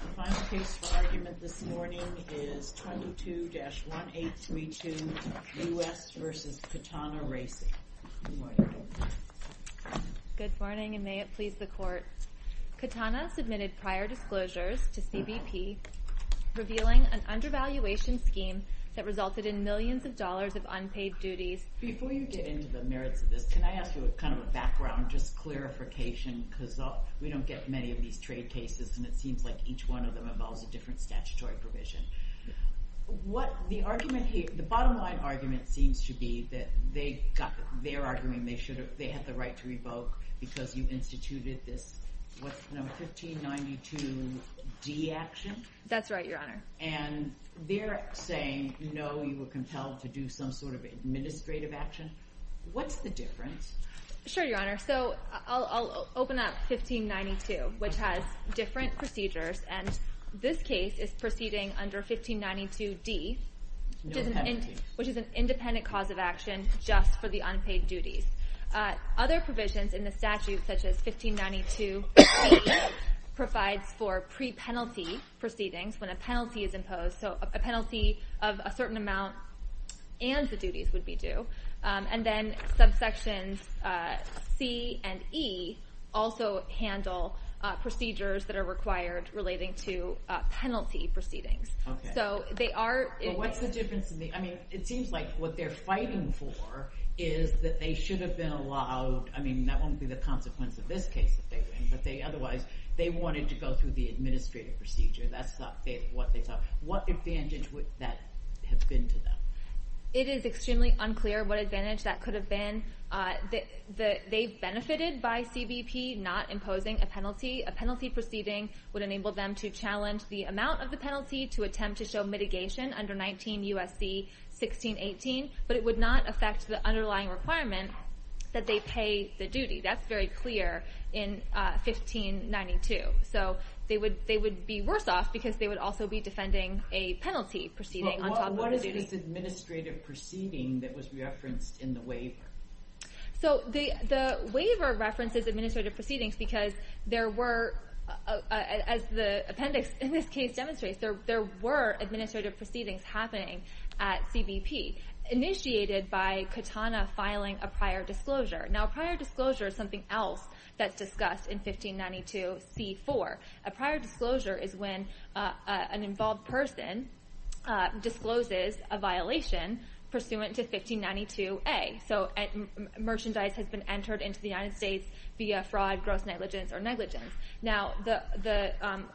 The final case for argument this morning is 22-1832, U.S. v. Katana Racing. Good morning, and may it please the Court. Katana submitted prior disclosures to CBP revealing an undervaluation scheme that resulted in millions of dollars of unpaid duties. Before you get into the merits of this, can I ask you a kind of a background, just clarification, because we don't get many of these trade cases and it seems like each one of them involves a different statutory provision. The bottom line argument seems to be that they're arguing they had the right to revoke because you instituted this 1592D action. That's right, Your Honor. And they're saying, no, you were compelled to do some sort of administrative action. What's the difference? Sure, Your Honor. So I'll open up 1592, which has different procedures, and this case is proceeding under 1592D, which is an independent cause of action just for the unpaid duties. Other provisions in the statute, such as 1592C, provides for pre-penalty proceedings when a penalty is imposed. So a penalty of a certain amount and the duties would be due. And then subsections C and E also handle procedures that are required relating to penalty proceedings. What's the difference? I mean, it seems like what they're fighting for is that they should have been allowed, I mean, that won't be the consequence of this case that they win, but they otherwise, they wanted to go through the administrative procedure. That's what they thought. What advantage would that have been to them? It is extremely unclear what advantage that could have been. They benefited by CBP not imposing a penalty. A penalty proceeding would enable them to challenge the amount of the penalty to attempt to show mitigation under 19 U.S.C. 1618, but it would not affect the underlying requirement that they pay the duty. That's very clear in 1592. So they would be worse off because they would also be defending a penalty proceeding on top of a duty. What is this administrative proceeding that was referenced in the waiver? So the waiver references administrative proceedings because there were, as the appendix in this case demonstrates, there were administrative proceedings happening at CBP. They were initiated by Katana filing a prior disclosure. Now a prior disclosure is something else that's discussed in 1592C4. A prior disclosure is when an involved person discloses a violation pursuant to 1592A. So merchandise has been entered into the United States via fraud, gross negligence, or negligence. Now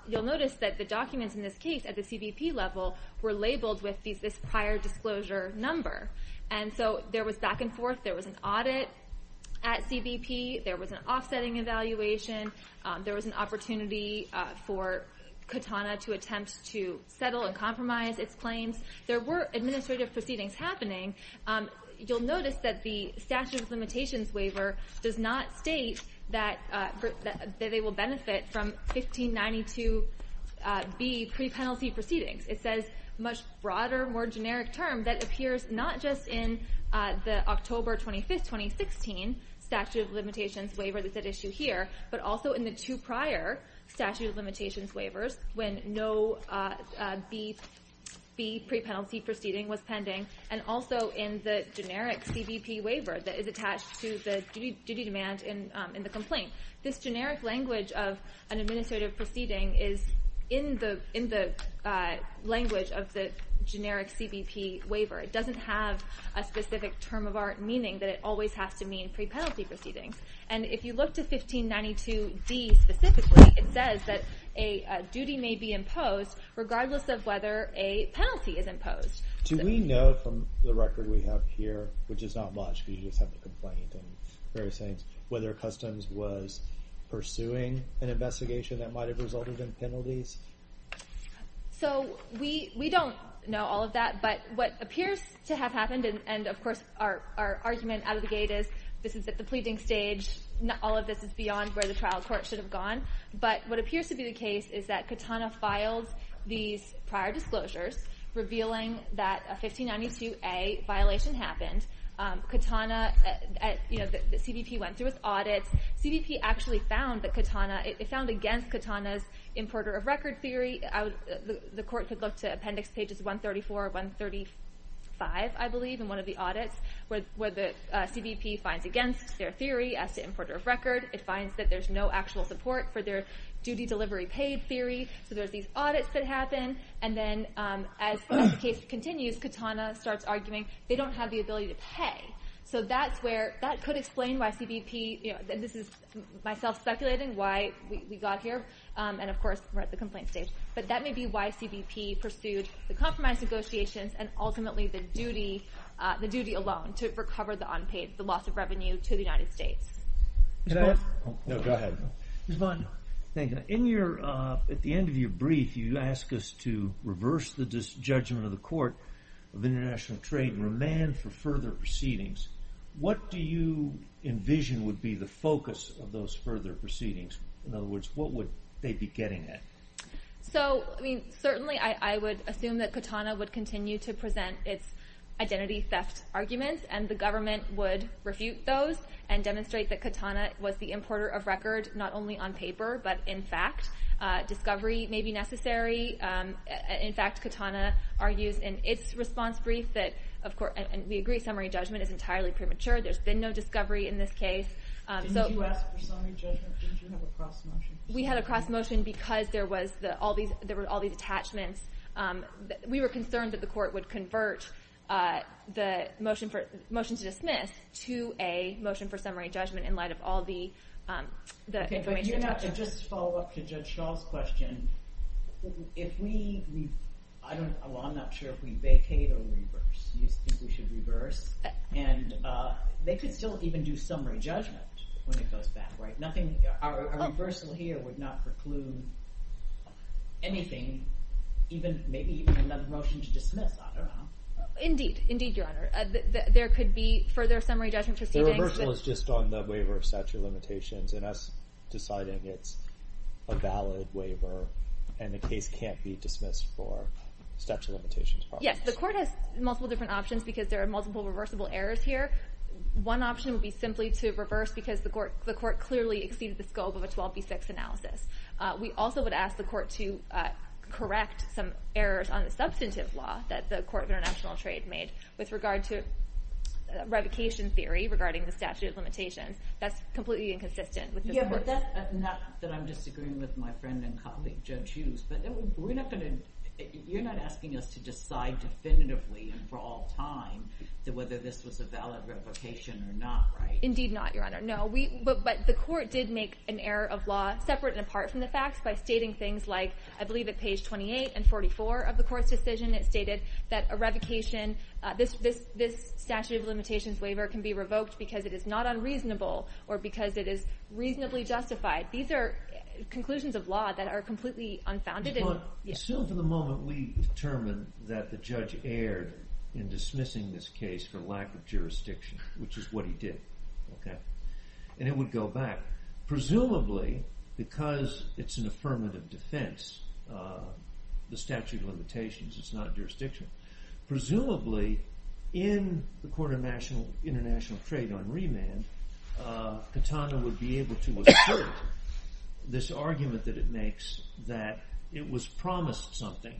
you'll notice that the documents in this case at the CBP level were labeled with this prior disclosure number. And so there was back and forth. There was an audit at CBP. There was an offsetting evaluation. There was an opportunity for Katana to attempt to settle and compromise its claims. There were administrative proceedings happening. You'll notice that the statute of limitations waiver does not state that they will benefit from 1592B pre-penalty proceedings. It says a much broader, more generic term that appears not just in the October 25, 2016 statute of limitations waiver that's at issue here, but also in the two prior statute of limitations waivers when no B pre-penalty proceeding was pending and also in the generic CBP waiver that is attached to the duty demand in the complaint. This generic language of an administrative proceeding is in the language of the generic CBP waiver. It doesn't have a specific term of art meaning that it always has to mean pre-penalty proceedings. And if you look to 1592D specifically, it says that a duty may be imposed regardless of whether a penalty is imposed. Do we know from the record we have here, which is not much because you just have the complaint and various things, whether Customs was pursuing an investigation that might have resulted in penalties? So, we don't know all of that, but what appears to have happened, and of course our argument out of the gate is this is at the pleading stage, all of this is beyond where the trial court should have gone, but what appears to be the case is that Katana filed these prior disclosures revealing that a 1592A violation happened. Katana, you know, the CBP went through its audits. CBP actually found that Katana, it found against Katana's importer of record theory, the court could look to appendix pages 134, 135, I believe, in one of the audits where the CBP finds against their theory as to importer of record. It finds that there's no actual support for their duty delivery paid theory, so there's these audits that happen, and then as the case continues, Katana starts arguing they don't have the ability to pay. So that's where, that could explain why CBP, this is myself speculating why we got here, and of course we're at the complaint stage, but that may be why CBP pursued the compromise negotiations and ultimately the duty alone to recover the unpaid, the loss of revenue to the United States. Go ahead. Ms. Vaughn, at the end of your brief, you ask us to reverse the judgment of the Court of International Trade and remand for further proceedings. What do you envision would be the focus of those further proceedings? In other words, what would they be getting at? So, I mean, certainly I would assume that Katana would continue to present its identity theft arguments, and the government would refute those and demonstrate that Katana was the importer of record, not only on paper, but in fact. Discovery may be necessary. In fact, Katana argues in its response brief that, and we agree summary judgment is entirely premature. There's been no discovery in this case. Didn't you ask for summary judgment? Didn't you have a cross-motion? We had a cross-motion because there were all these attachments. We were concerned that the court would convert the motion to dismiss to a motion for summary judgment in light of all the information attached to it. Okay, but you have to just follow up to Judge Shaw's question. If we, I don't, well, I'm not sure if we vacate or reverse. Do you think we should reverse? And they could still even do summary judgment when it goes back, right? I think a reversal here would not preclude anything, maybe even another motion to dismiss, I don't know. Indeed, indeed, Your Honor. There could be further summary judgment proceedings. The reversal is just on the waiver of statute of limitations, and us deciding it's a valid waiver, and the case can't be dismissed for statute of limitations. Yes, the court has multiple different options because there are multiple reversible errors here. One option would be simply to reverse because the court clearly exceeded the scope of a 12B6 analysis. We also would ask the court to correct some errors on the substantive law that the Court of International Trade made with regard to revocation theory regarding the statute of limitations. That's completely inconsistent with the court. Yeah, but that's, not that I'm disagreeing with my friend and colleague, Judge Hughes, but we're not going to, you're not asking us to decide definitively and for all time whether this was a valid revocation or not, right? Indeed not, Your Honor, no. But the court did make an error of law separate and apart from the facts by stating things like, I believe at page 28 and 44 of the court's decision, it stated that a revocation, this statute of limitations waiver can be revoked because it is not unreasonable or because it is reasonably justified. These are conclusions of law that are completely unfounded. But still for the moment we determined that the judge erred in dismissing this case for lack of jurisdiction, which is what he did. And it would go back. Presumably because it's an affirmative defense, the statute of limitations, it's not jurisdiction. Presumably in the Court of International Trade on remand, Katana would be able to assert this argument that it makes that it was promised something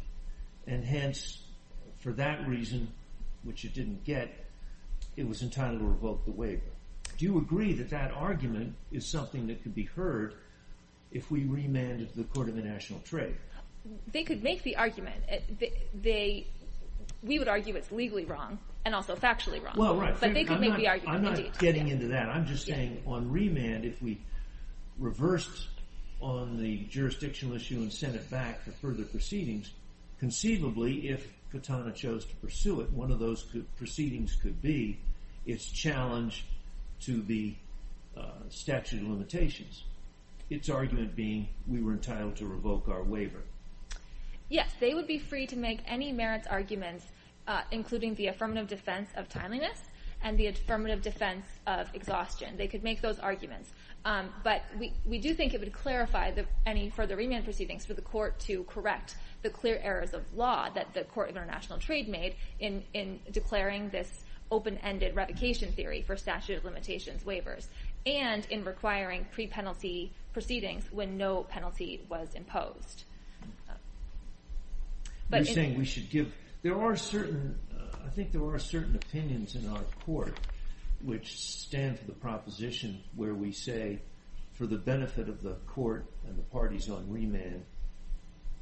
and hence for that reason, which it didn't get, it was entitled to revoke the waiver. Do you agree that that argument is something that could be heard if we remanded the Court of International Trade? They could make the argument. We would argue it's legally wrong and also factually wrong. Well, right. I'm not getting into that. I'm just saying on remand, if we reversed on the jurisdictional issue and sent it back for further proceedings, conceivably if Katana chose to pursue it, one of those proceedings could be its challenge to the statute of limitations. Its argument being we were entitled to revoke our waiver. Yes, they would be free to make any merits arguments including the affirmative defense of timeliness and the affirmative defense of exhaustion. They could make those arguments. But we do think it would clarify any further remand proceedings for the Court to correct the clear errors of law that the Court of International Trade made in declaring this open-ended revocation theory for statute of limitations waivers and in requiring pre-penalty proceedings when no penalty was imposed. You're saying we should give... There are certain... I think there are certain opinions in our Court which stand for the proposition where we say for the benefit of the Court and the parties on remand,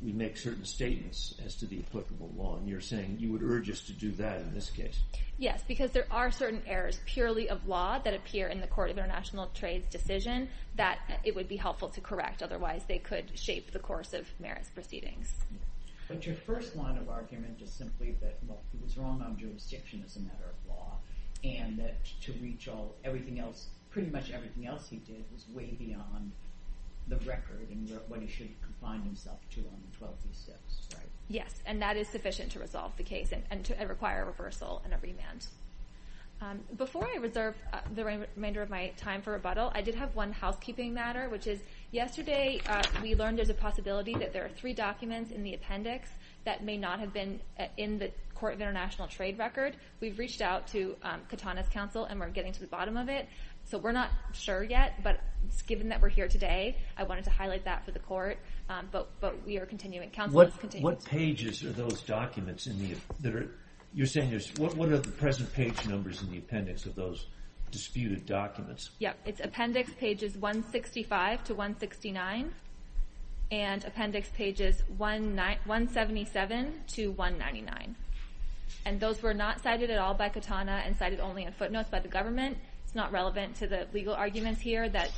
we make certain statements as to the applicable law. And you're saying you would urge us to do that in this case. Yes, because there are certain errors purely of law that appear in the Court of International Trade's decision that it would be helpful to correct. Otherwise, they could shape the course of merits proceedings. But your first line of argument is simply that he was wrong on jurisdiction as a matter of law and that to reach pretty much everything else he did was way beyond the record and what he should confine himself to on 12th and 6th, right? Yes, and that is sufficient to resolve the case and require a reversal and a remand. Before I reserve the remainder of my time for rebuttal, I did have one housekeeping matter which is yesterday we learned there's a possibility that there are three documents in the appendix that may not have been in the Court of International Trade record. We've reached out to Katana's counsel and we're getting to the bottom of it. So we're not sure yet, but given that we're here today, I wanted to highlight that for the Court. But we are continuing... What pages are those documents in the... You're saying there's... What are the present page numbers in the appendix of those disputed documents? Yeah, it's appendix pages 165 to 169 and appendix pages 177 to 199. And those were not cited at all by Katana and cited only in footnotes by the government. It's not relevant to the legal arguments here that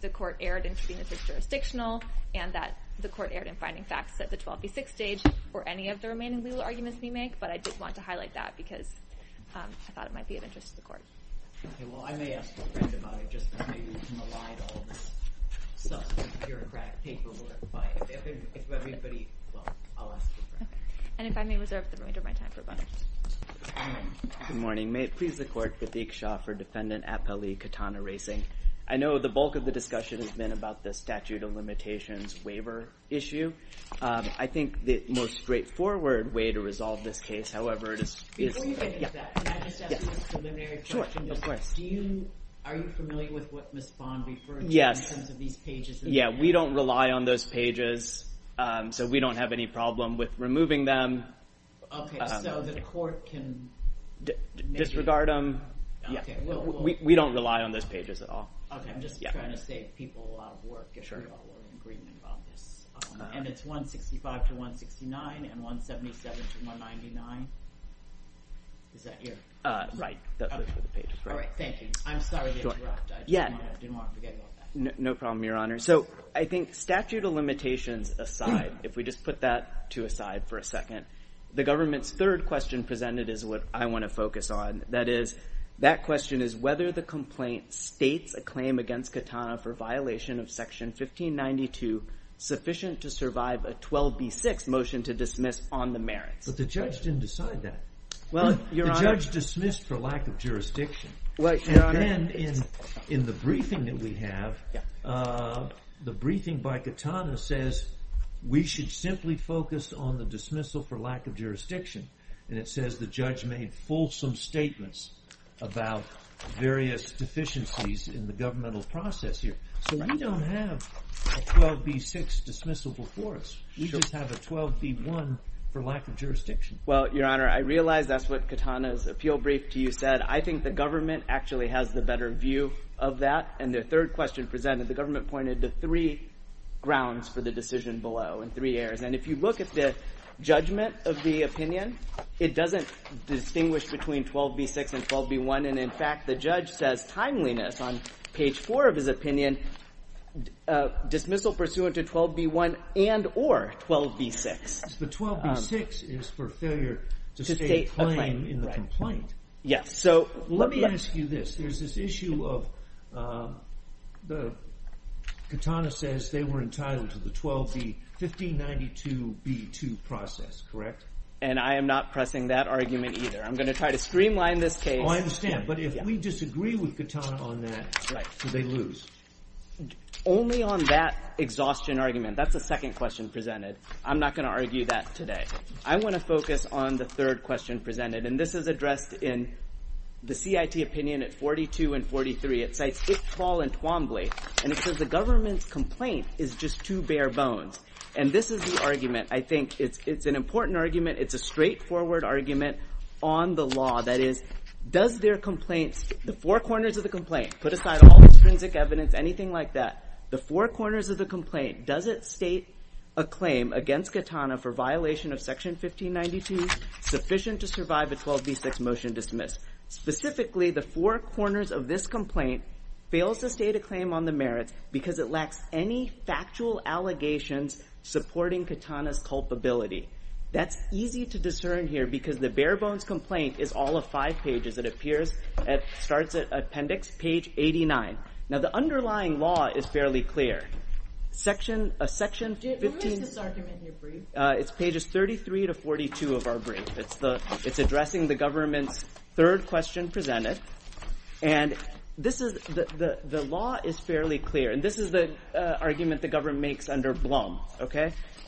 the Court erred in being a fixed jurisdictional and that the Court erred in finding facts at the 12th and 6th stage or any of the remaining legal arguments we make, but I did want to highlight that Okay, well, I may ask a friend about it just because maybe we can elide all this substantive bureaucratic paperwork. If everybody... Well, I'll ask a friend. And if I may reserve the remainder of my time for bonus. Good morning. May it please the Court, Vidik Shah for defendant Appali Katana Racing. I know the bulk of the discussion has been about the statute of limitations waiver issue. I think the most straightforward way to resolve this case, however, is... Before you get into that, can I just ask a preliminary question? Sure, of course. Are you familiar with what Ms. Bond referred to in terms of these pages? Yeah, we don't rely on those pages, so we don't have any problem with removing them. Okay, so the Court can... Disregard them. We don't rely on those pages at all. Okay, I'm just trying to save people a lot of work if we're all agreeing on this. And it's 165 to 169 and 177 to 199. Is that your... Right. All right, thank you. I'm sorry to interrupt. I didn't want to forget about that. No problem, Your Honor. So I think statute of limitations aside, if we just put that two aside for a second, the government's third question presented is what I want to focus on. That is, that question is whether the complaint states a claim against Katana for violation of Section 1592 sufficient to survive a 12b6 motion to dismiss on the merits. But the judge didn't decide that. The judge dismissed for lack of jurisdiction. And then in the briefing that we have, the briefing by Katana says we should simply focus on the dismissal for lack of jurisdiction. And it says the judge made fulsome statements about various deficiencies in the governmental process here. So we don't have a 12b6 dismissal before us. We just have a 12b1 for lack of jurisdiction. Well, Your Honor, I realize that's what Katana's appeal brief to you said. I think the government actually has the better view of that. And the third question presented, the government pointed to three grounds for the decision below in three areas. And if you look at the judgment of the opinion, it doesn't distinguish between 12b6 and 12b1. And in fact, the judge says timeliness on page four of his opinion, dismissal pursuant to 12b1 and or 12b6. The 12b6 is for failure to state a claim in the complaint. Let me ask you this. There's this issue of Katana says they were entitled to the 12b1592b2 process, correct? And I am not pressing that argument either. I'm going to try to streamline this case. Oh, I understand. But if we disagree with Katana on that, do they lose? Only on that exhaustion argument. That's the second question presented. We're going to review that today. I want to focus on the third question presented. And this is addressed in the CIT opinion at 42 and 43. It cites Iqbal and Twombly. And it says the government's complaint is just two bare bones. And this is the argument. I think it's an important argument. It's a straightforward argument on the law. That is, does their complaints, the four corners of the complaint, put aside all the forensic evidence, anything like that. The four corners of the complaint, does it state a claim against Katana for violation of section 1592 sufficient to survive a 12b6 motion dismissed? Specifically, the four corners of this complaint fails to state a claim on the merits because it lacks any factual allegations supporting Katana's culpability. That's easy to discern here because the bare bones complaint is all of five pages. It appears, it starts at appendix page 89. Now, the underlying law is fairly clear. A section 15... Who makes this argument in your brief? It's pages 33 to 42 of our brief. It's addressing the government's third question presented. And the law is fairly clear. And this is the argument the government makes under Blum.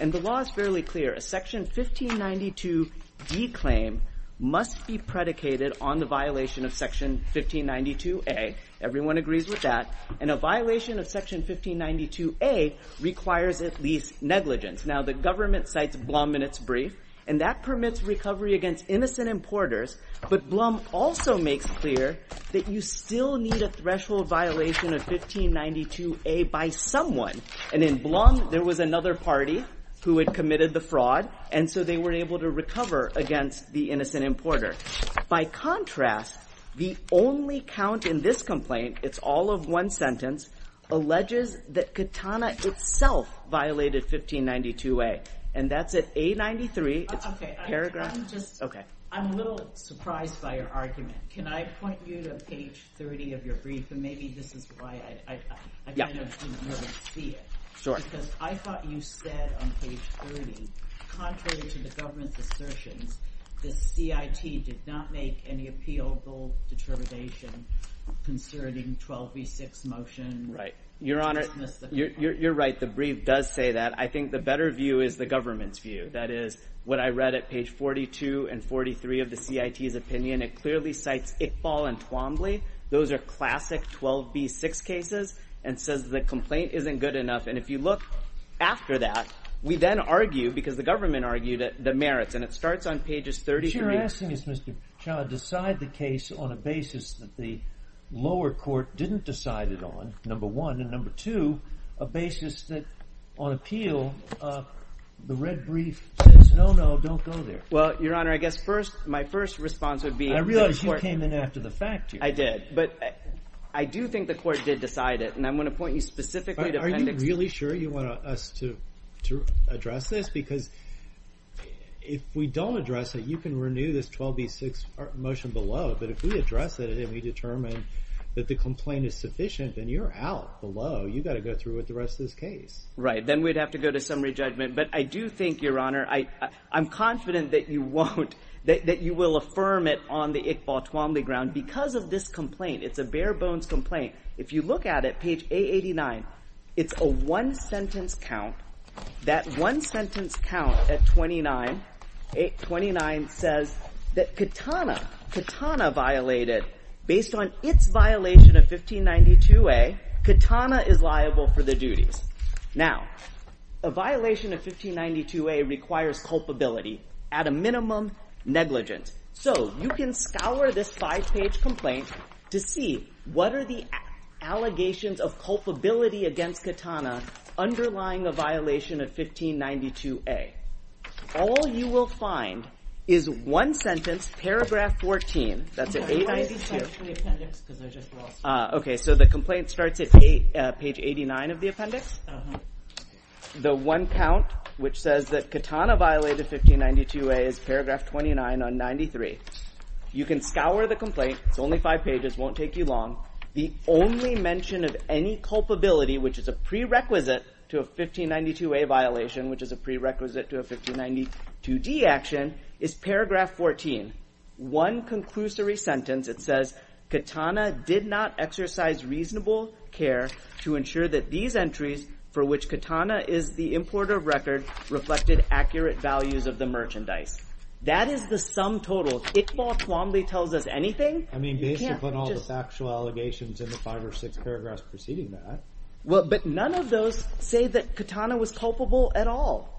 And the law is fairly clear. A section 1592d claim must be predicated on the violation of section 1592a. Everyone agrees with that. And a violation of section 1592a requires at least negligence. Now, the government cites Blum in its brief. And that permits recovery against innocent importers. But Blum also makes clear that you still need a threshold violation of 1592a by someone. And in Blum, there was another party who had committed the fraud. And so they were able to recover against the innocent importer. By contrast, the only count in this complaint, it's all of one sentence, alleges that Katana itself violated 1592a. And that's at A93. It's a paragraph... I'm a little surprised by your argument. Can I point you to page 30 of your brief? And maybe this is why I kind of didn't want to see it. Because I thought you said on page 30, contrary to the government's assertions, the CIT did not make any appealable determination concerning 12b6 motion. You're right. The brief does say that. I think the better view is the government's view. That is, what I read at page 42 and 43 of the CIT's opinion, it clearly cites Iqbal and Twombly. Those are classic 12b6 cases. And says the complaint isn't good enough. And if you look after that, we then argue, because the government argued it, that it merits. And it starts on pages 33. What you're asking is, Mr. Chad, decide the case on a basis that the lower court didn't decide it on, number one. And number two, a basis that, on appeal, the red brief says, no, no, don't go there. Well, Your Honor, I guess my first response would be... I realize you came in after the fact here. I did. But I do think the court did decide it. And I'm going to point you specifically to appendix... Are you really sure you want us to address this? Because if we don't address it, you can renew this 12b6 motion below. But if we address it, and we determine that the complaint is sufficient, then you're out below. You've got to go through with the rest of this case. Right. Then we'd have to go to summary judgment. But I do think, Your Honor, I'm confident that you won't... that you will affirm it on the Iqbal-Twombly ground because of this complaint. It's a bare-bones complaint. If you look at it, page A89, it's a one-sentence count. That one-sentence count at 29... 29 says that Katana... Katana violated... Based on its violation of 1592A, Katana is liable for the duties. Now, a violation of 1592A requires culpability. At a minimum, negligent. So you can scour this five-page complaint to see what are the allegations of culpability against Katana underlying a violation of 1592A. All you will find is one sentence, paragraph 14. That's at 892. Okay. So the complaint starts at page 89 of the appendix. The one count, which says that Katana violated 1592A is paragraph 29 on 93. You can scour the complaint. It's only five pages. Won't take you long. The only mention of any culpability, which is a prerequisite to a 1592A violation, which is a prerequisite to a 1592D action, is paragraph 14. One conclusory sentence, it says, Katana did not exercise reasonable care to ensure that these entries for which Katana is the importer of record reflected accurate values of the merchandise. That is the sum total. Iqbal calmly tells us anything. I mean, based upon all the factual allegations in the five or six paragraphs preceding that. Well, but none of those say that Katana was culpable at all.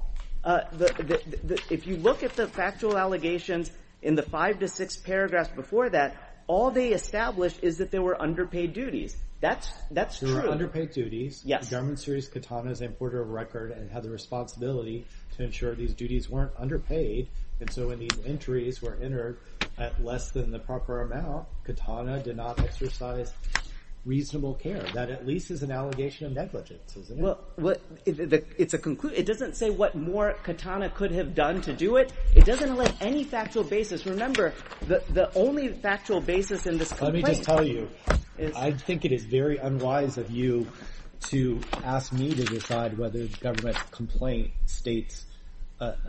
If you look at the factual allegations in the five to six paragraphs before that, all they establish is that they were underpaid duties. That's true. They were underpaid duties. Yes. The government sees Katana as an importer of record and has a responsibility to ensure these duties weren't underpaid. And so when these entries were entered at less than the proper amount, Katana did not exercise reasonable care. That at least is an allegation of negligence, isn't it? Well, it's a conclusion. It doesn't say what more Katana could have done to do it. It doesn't let any factual basis. Remember, the only factual basis in this complaint. Let me just tell you, I think it is very unwise of you to ask me to decide whether the government's complaint states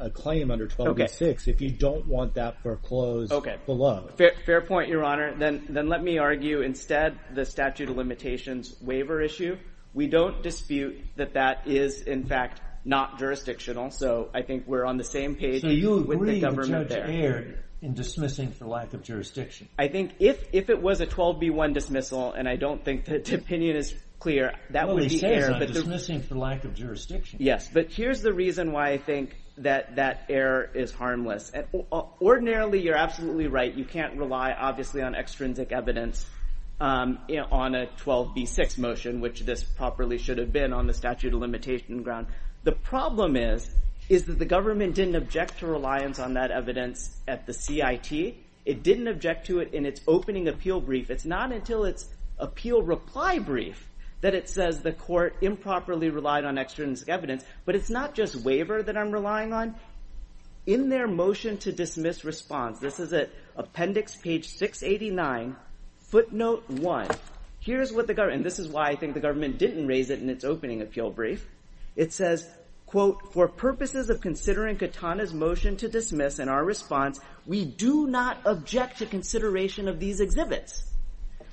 a claim under 1286 if you don't want that foreclosed below. Fair point, Your Honor. Then let me argue instead the statute of limitations waiver issue. We don't dispute that that is, in fact, not jurisdictional. So I think we're on the same page with the government there. So you agree the judge erred in dismissing for lack of jurisdiction? I think if it was a 12B1 dismissal, and I don't think the opinion is clear, that would be error. Well, he says on dismissing for lack of jurisdiction. Yes, but here's the reason why I think that that error is harmless. You can't rely, obviously, on extrinsic evidence on a 12B6 motion, which this properly should have been on the statute of limitation ground. The problem is, is that the government didn't object to reliance on that evidence at the CIT. It didn't object to it in its opening appeal brief. It's not until its appeal reply brief that it says the court improperly relied on extrinsic evidence. But it's not just waiver that I'm relying on. In their motion to dismiss response, this is at appendix page 689, footnote one. Here's what the government, and this is why I think the government didn't raise it in its opening appeal brief. It says, quote, for purposes of considering Katana's motion to dismiss and our response, we do not object to consideration of these exhibits.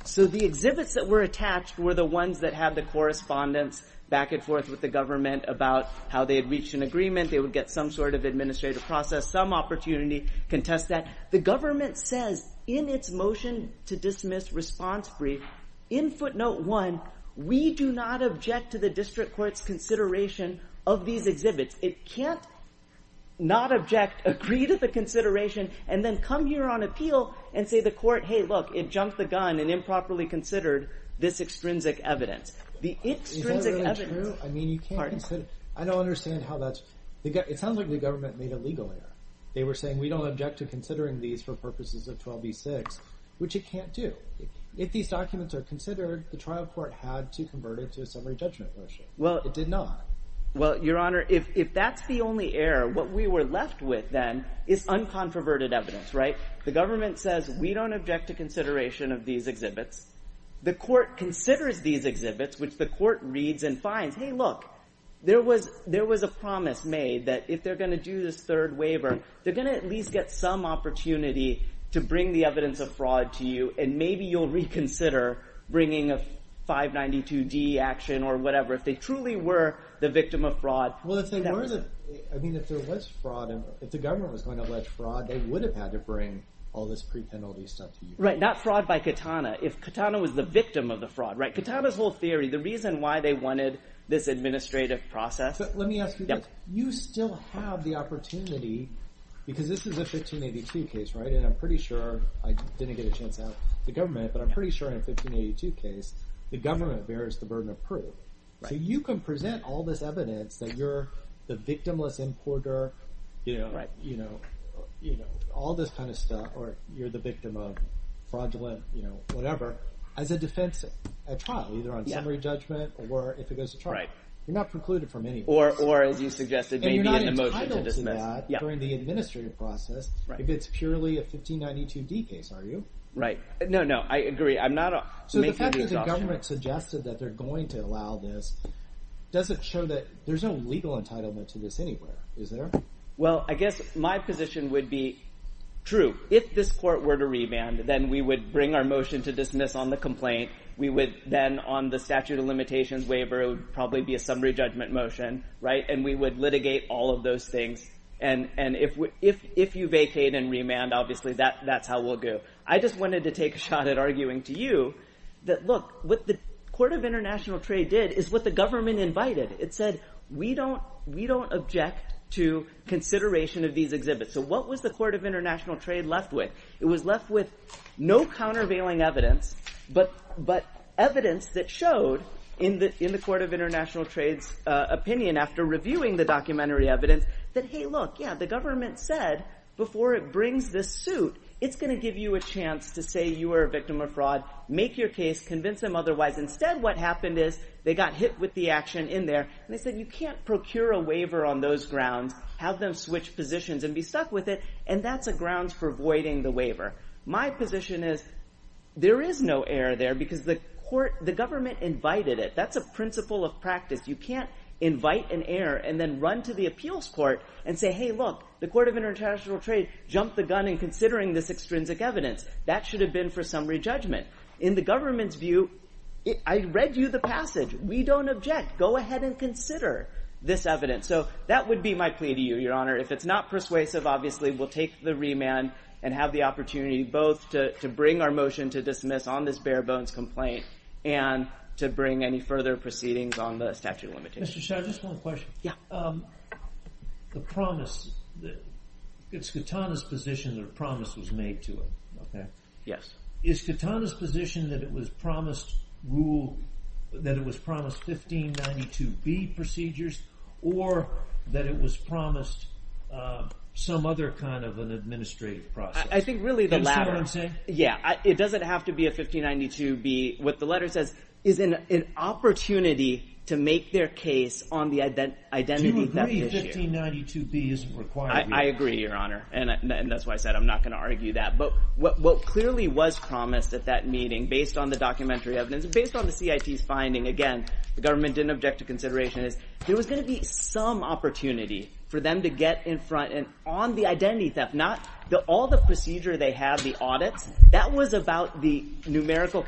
So the exhibits that were attached were the ones that had the correspondence back and forth with the government about how they had reached an agreement. They would get some sort of administrative process, some opportunity to contest that. The government says in its motion to dismiss response brief, in footnote one, we do not object to the district court's consideration of these exhibits. It can't not object, agree to the consideration, and then come here on appeal and say the court, hey, look, it jumped the gun and improperly considered this extrinsic evidence. The extrinsic evidence. I don't understand how that's, it sounds like the government made a legal error. They were saying we don't object to considering these for purposes of 12b-6, which it can't do. If these documents are considered, the trial court had to convert it to a summary judgment motion. It did not. Well, your honor, if that's the only error, what we were left with then is uncontroverted evidence, right? The government says we don't object to consideration of these exhibits. The court considers these exhibits, which the court reads and finds, hey, look, there was a promise made that if they're going to do this third waiver, they're going to at least get some opportunity to bring the evidence of fraud to you, and maybe you'll reconsider bringing a 592-D action or whatever, if they truly were the victim of fraud. Well, if they were, I mean, if there was fraud, if the government was going to allege fraud, they would have had to bring all this pre-penalty stuff to you. Right, not fraud by Katana. If Katana was the victim of the fraud, this administrative process. But let me ask you this. You still have the opportunity, because this is a 1582 case, right, and I'm pretty sure, I didn't get a chance to ask the government, but I'm pretty sure in a 1582 case, the government bears the burden of proof. So you can present all this evidence that you're the victimless importer, you know, all this kind of stuff, or you're the victim of fraudulent, you know, whatever, as a defense at trial, either on summary judgment, or if it goes to trial. You're not precluded from any of this. Or, as you suggested, maybe in the motion to dismiss. And you're not entitled to that during the administrative process, if it's purely a 1592D case, are you? Right, no, no, I agree. I'm not making the exhaustion. So the fact that the government suggested that they're going to allow this doesn't show that there's no legal entitlement to this anywhere, is there? Well, I guess my position would be, on the statute of limitations waiver, it would probably be a summary judgment motion, right, and we would litigate all of those things. And if you vacate and remand, obviously that's how we'll go. I just wanted to take a shot at arguing to you that, look, what the Court of International Trade did is what the government invited. It said, we don't object to consideration of these exhibits. So what was the Court of International Trade left with? It was left with no countervailing evidence, which showed, in the Court of International Trade's opinion after reviewing the documentary evidence, that, hey, look, yeah, the government said, before it brings this suit, it's going to give you a chance to say you were a victim of fraud, make your case, convince them otherwise. Instead, what happened is they got hit with the action in there, and they said, you can't procure a waiver on those grounds, have them switch positions and be stuck with it, and that's a grounds for voiding the waiver. My position is, there is no error there and you can't invite it. That's a principle of practice. You can't invite an error and then run to the appeals court and say, hey, look, the Court of International Trade jumped the gun in considering this extrinsic evidence. That should have been for summary judgment. In the government's view, I read you the passage. We don't object. Go ahead and consider this evidence. So that would be my plea to you, Your Honor. If it's not persuasive, obviously, we'll take the remand to bring any further proceedings on the statute of limitations. Mr. Shah, just one question. The promise, it's Katana's position that a promise was made to him. Is Katana's position that it was promised rule, that it was promised 1592B procedures or that it was promised some other kind of an administrative process? I think really the latter. It doesn't have to be a 1592B. What the letter says is an opportunity to make their case on the identity theft issue. Do you agree 1592B is required? I agree, Your Honor. And that's why I said I'm not going to argue that. But what clearly was promised at that meeting based on the documentary evidence, based on the CIT's finding, again, the government didn't object to consideration, is there was going to be some opportunity for them to get in front and on the identity theft, not all the procedure they have, but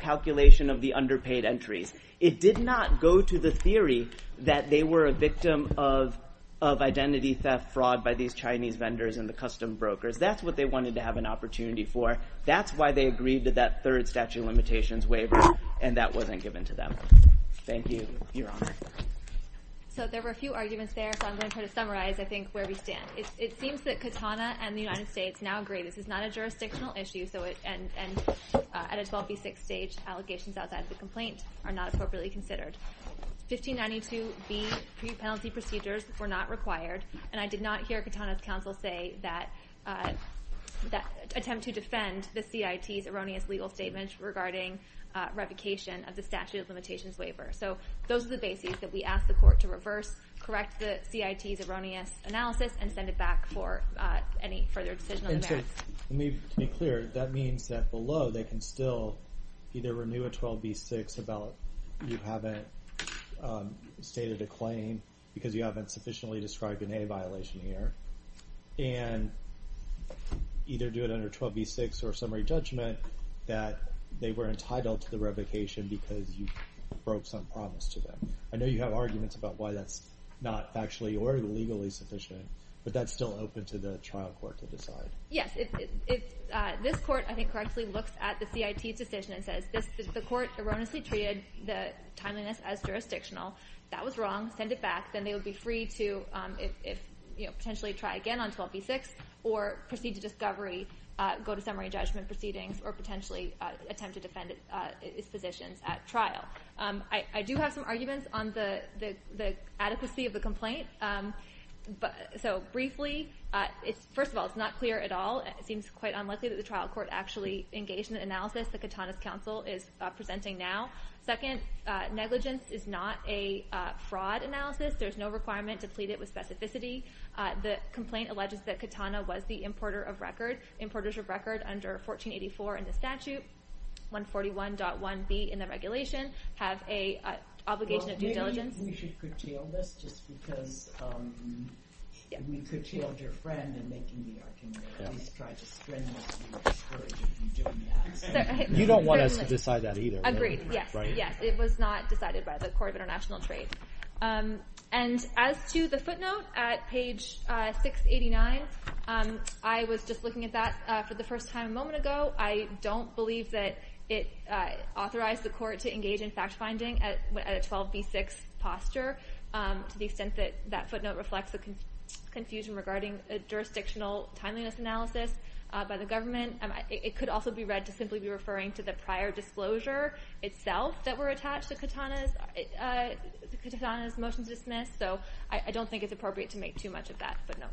consideration of the underpaid entries. It did not go to the theory that they were a victim of identity theft fraud by these Chinese vendors and the custom brokers. That's what they wanted to have an opportunity for. That's why they agreed to that third statute of limitations waiver and that wasn't given to them. Thank you, Your Honor. So there were a few arguments there, so I'm going to try to summarize, I think, where we stand. It seems that Katana and the court's arguments about that as a complaint are not appropriately considered. 1592B pre-penalty procedures were not required and I did not hear Katana's counsel attempt to defend the CIT's erroneous legal statement regarding revocation of the statute of limitations waiver. So those are the bases that we ask the court to reverse, correct the CIT's erroneous analysis and send it back for any further decision on the merits. And so to be clear, that means that below 12B6 about you haven't stated a claim because you haven't sufficiently described an A violation here and either do it under 12B6 or summary judgment that they were entitled to the revocation because you broke some promise to them. I know you have arguments about why that's not factually or legally sufficient, but that's still open to the trial court to decide. Yes, this court, I think, correctly looks at the CIT's decision and says the court erroneously treated the timeliness as jurisdictional. If that was wrong, send it back. Then they would be free to potentially try again on 12B6 or proceed to discovery, go to summary judgment proceedings or potentially attempt to defend its positions at trial. I do have some arguments on the adequacy of the complaint. So briefly, first of all, it's not clear at all. It seems quite unlikely that the trial court actually engaged in this type of action. So that's the first argument that the counsel is presenting now. Second, negligence is not a fraud analysis. There's no requirement to plead it with specificity. The complaint alleges that Katana was the importer of record, importers of record under 1484 and the statute 141.1B in the regulation have an obligation of due diligence. Well, maybe we should curtail this just because we curtailed your friend in making the argument. I don't think we should just decide that either. Agreed. Yes. It was not decided by the Court of International Trade. And as to the footnote at page 689, I was just looking at that for the first time a moment ago. I don't believe that it authorized the court to engage in fact-finding at a 12B6 posture to the extent that that footnote reflects the confusion regarding a jurisdictional timeliness analysis by the government. It could also be read to simply be referring to the prior disclosure itself that were attached to Katana's motion to dismiss. So I don't think it's appropriate to make too much of that footnote.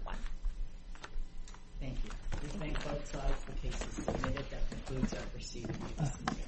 Thank you. This concludes our proceedings.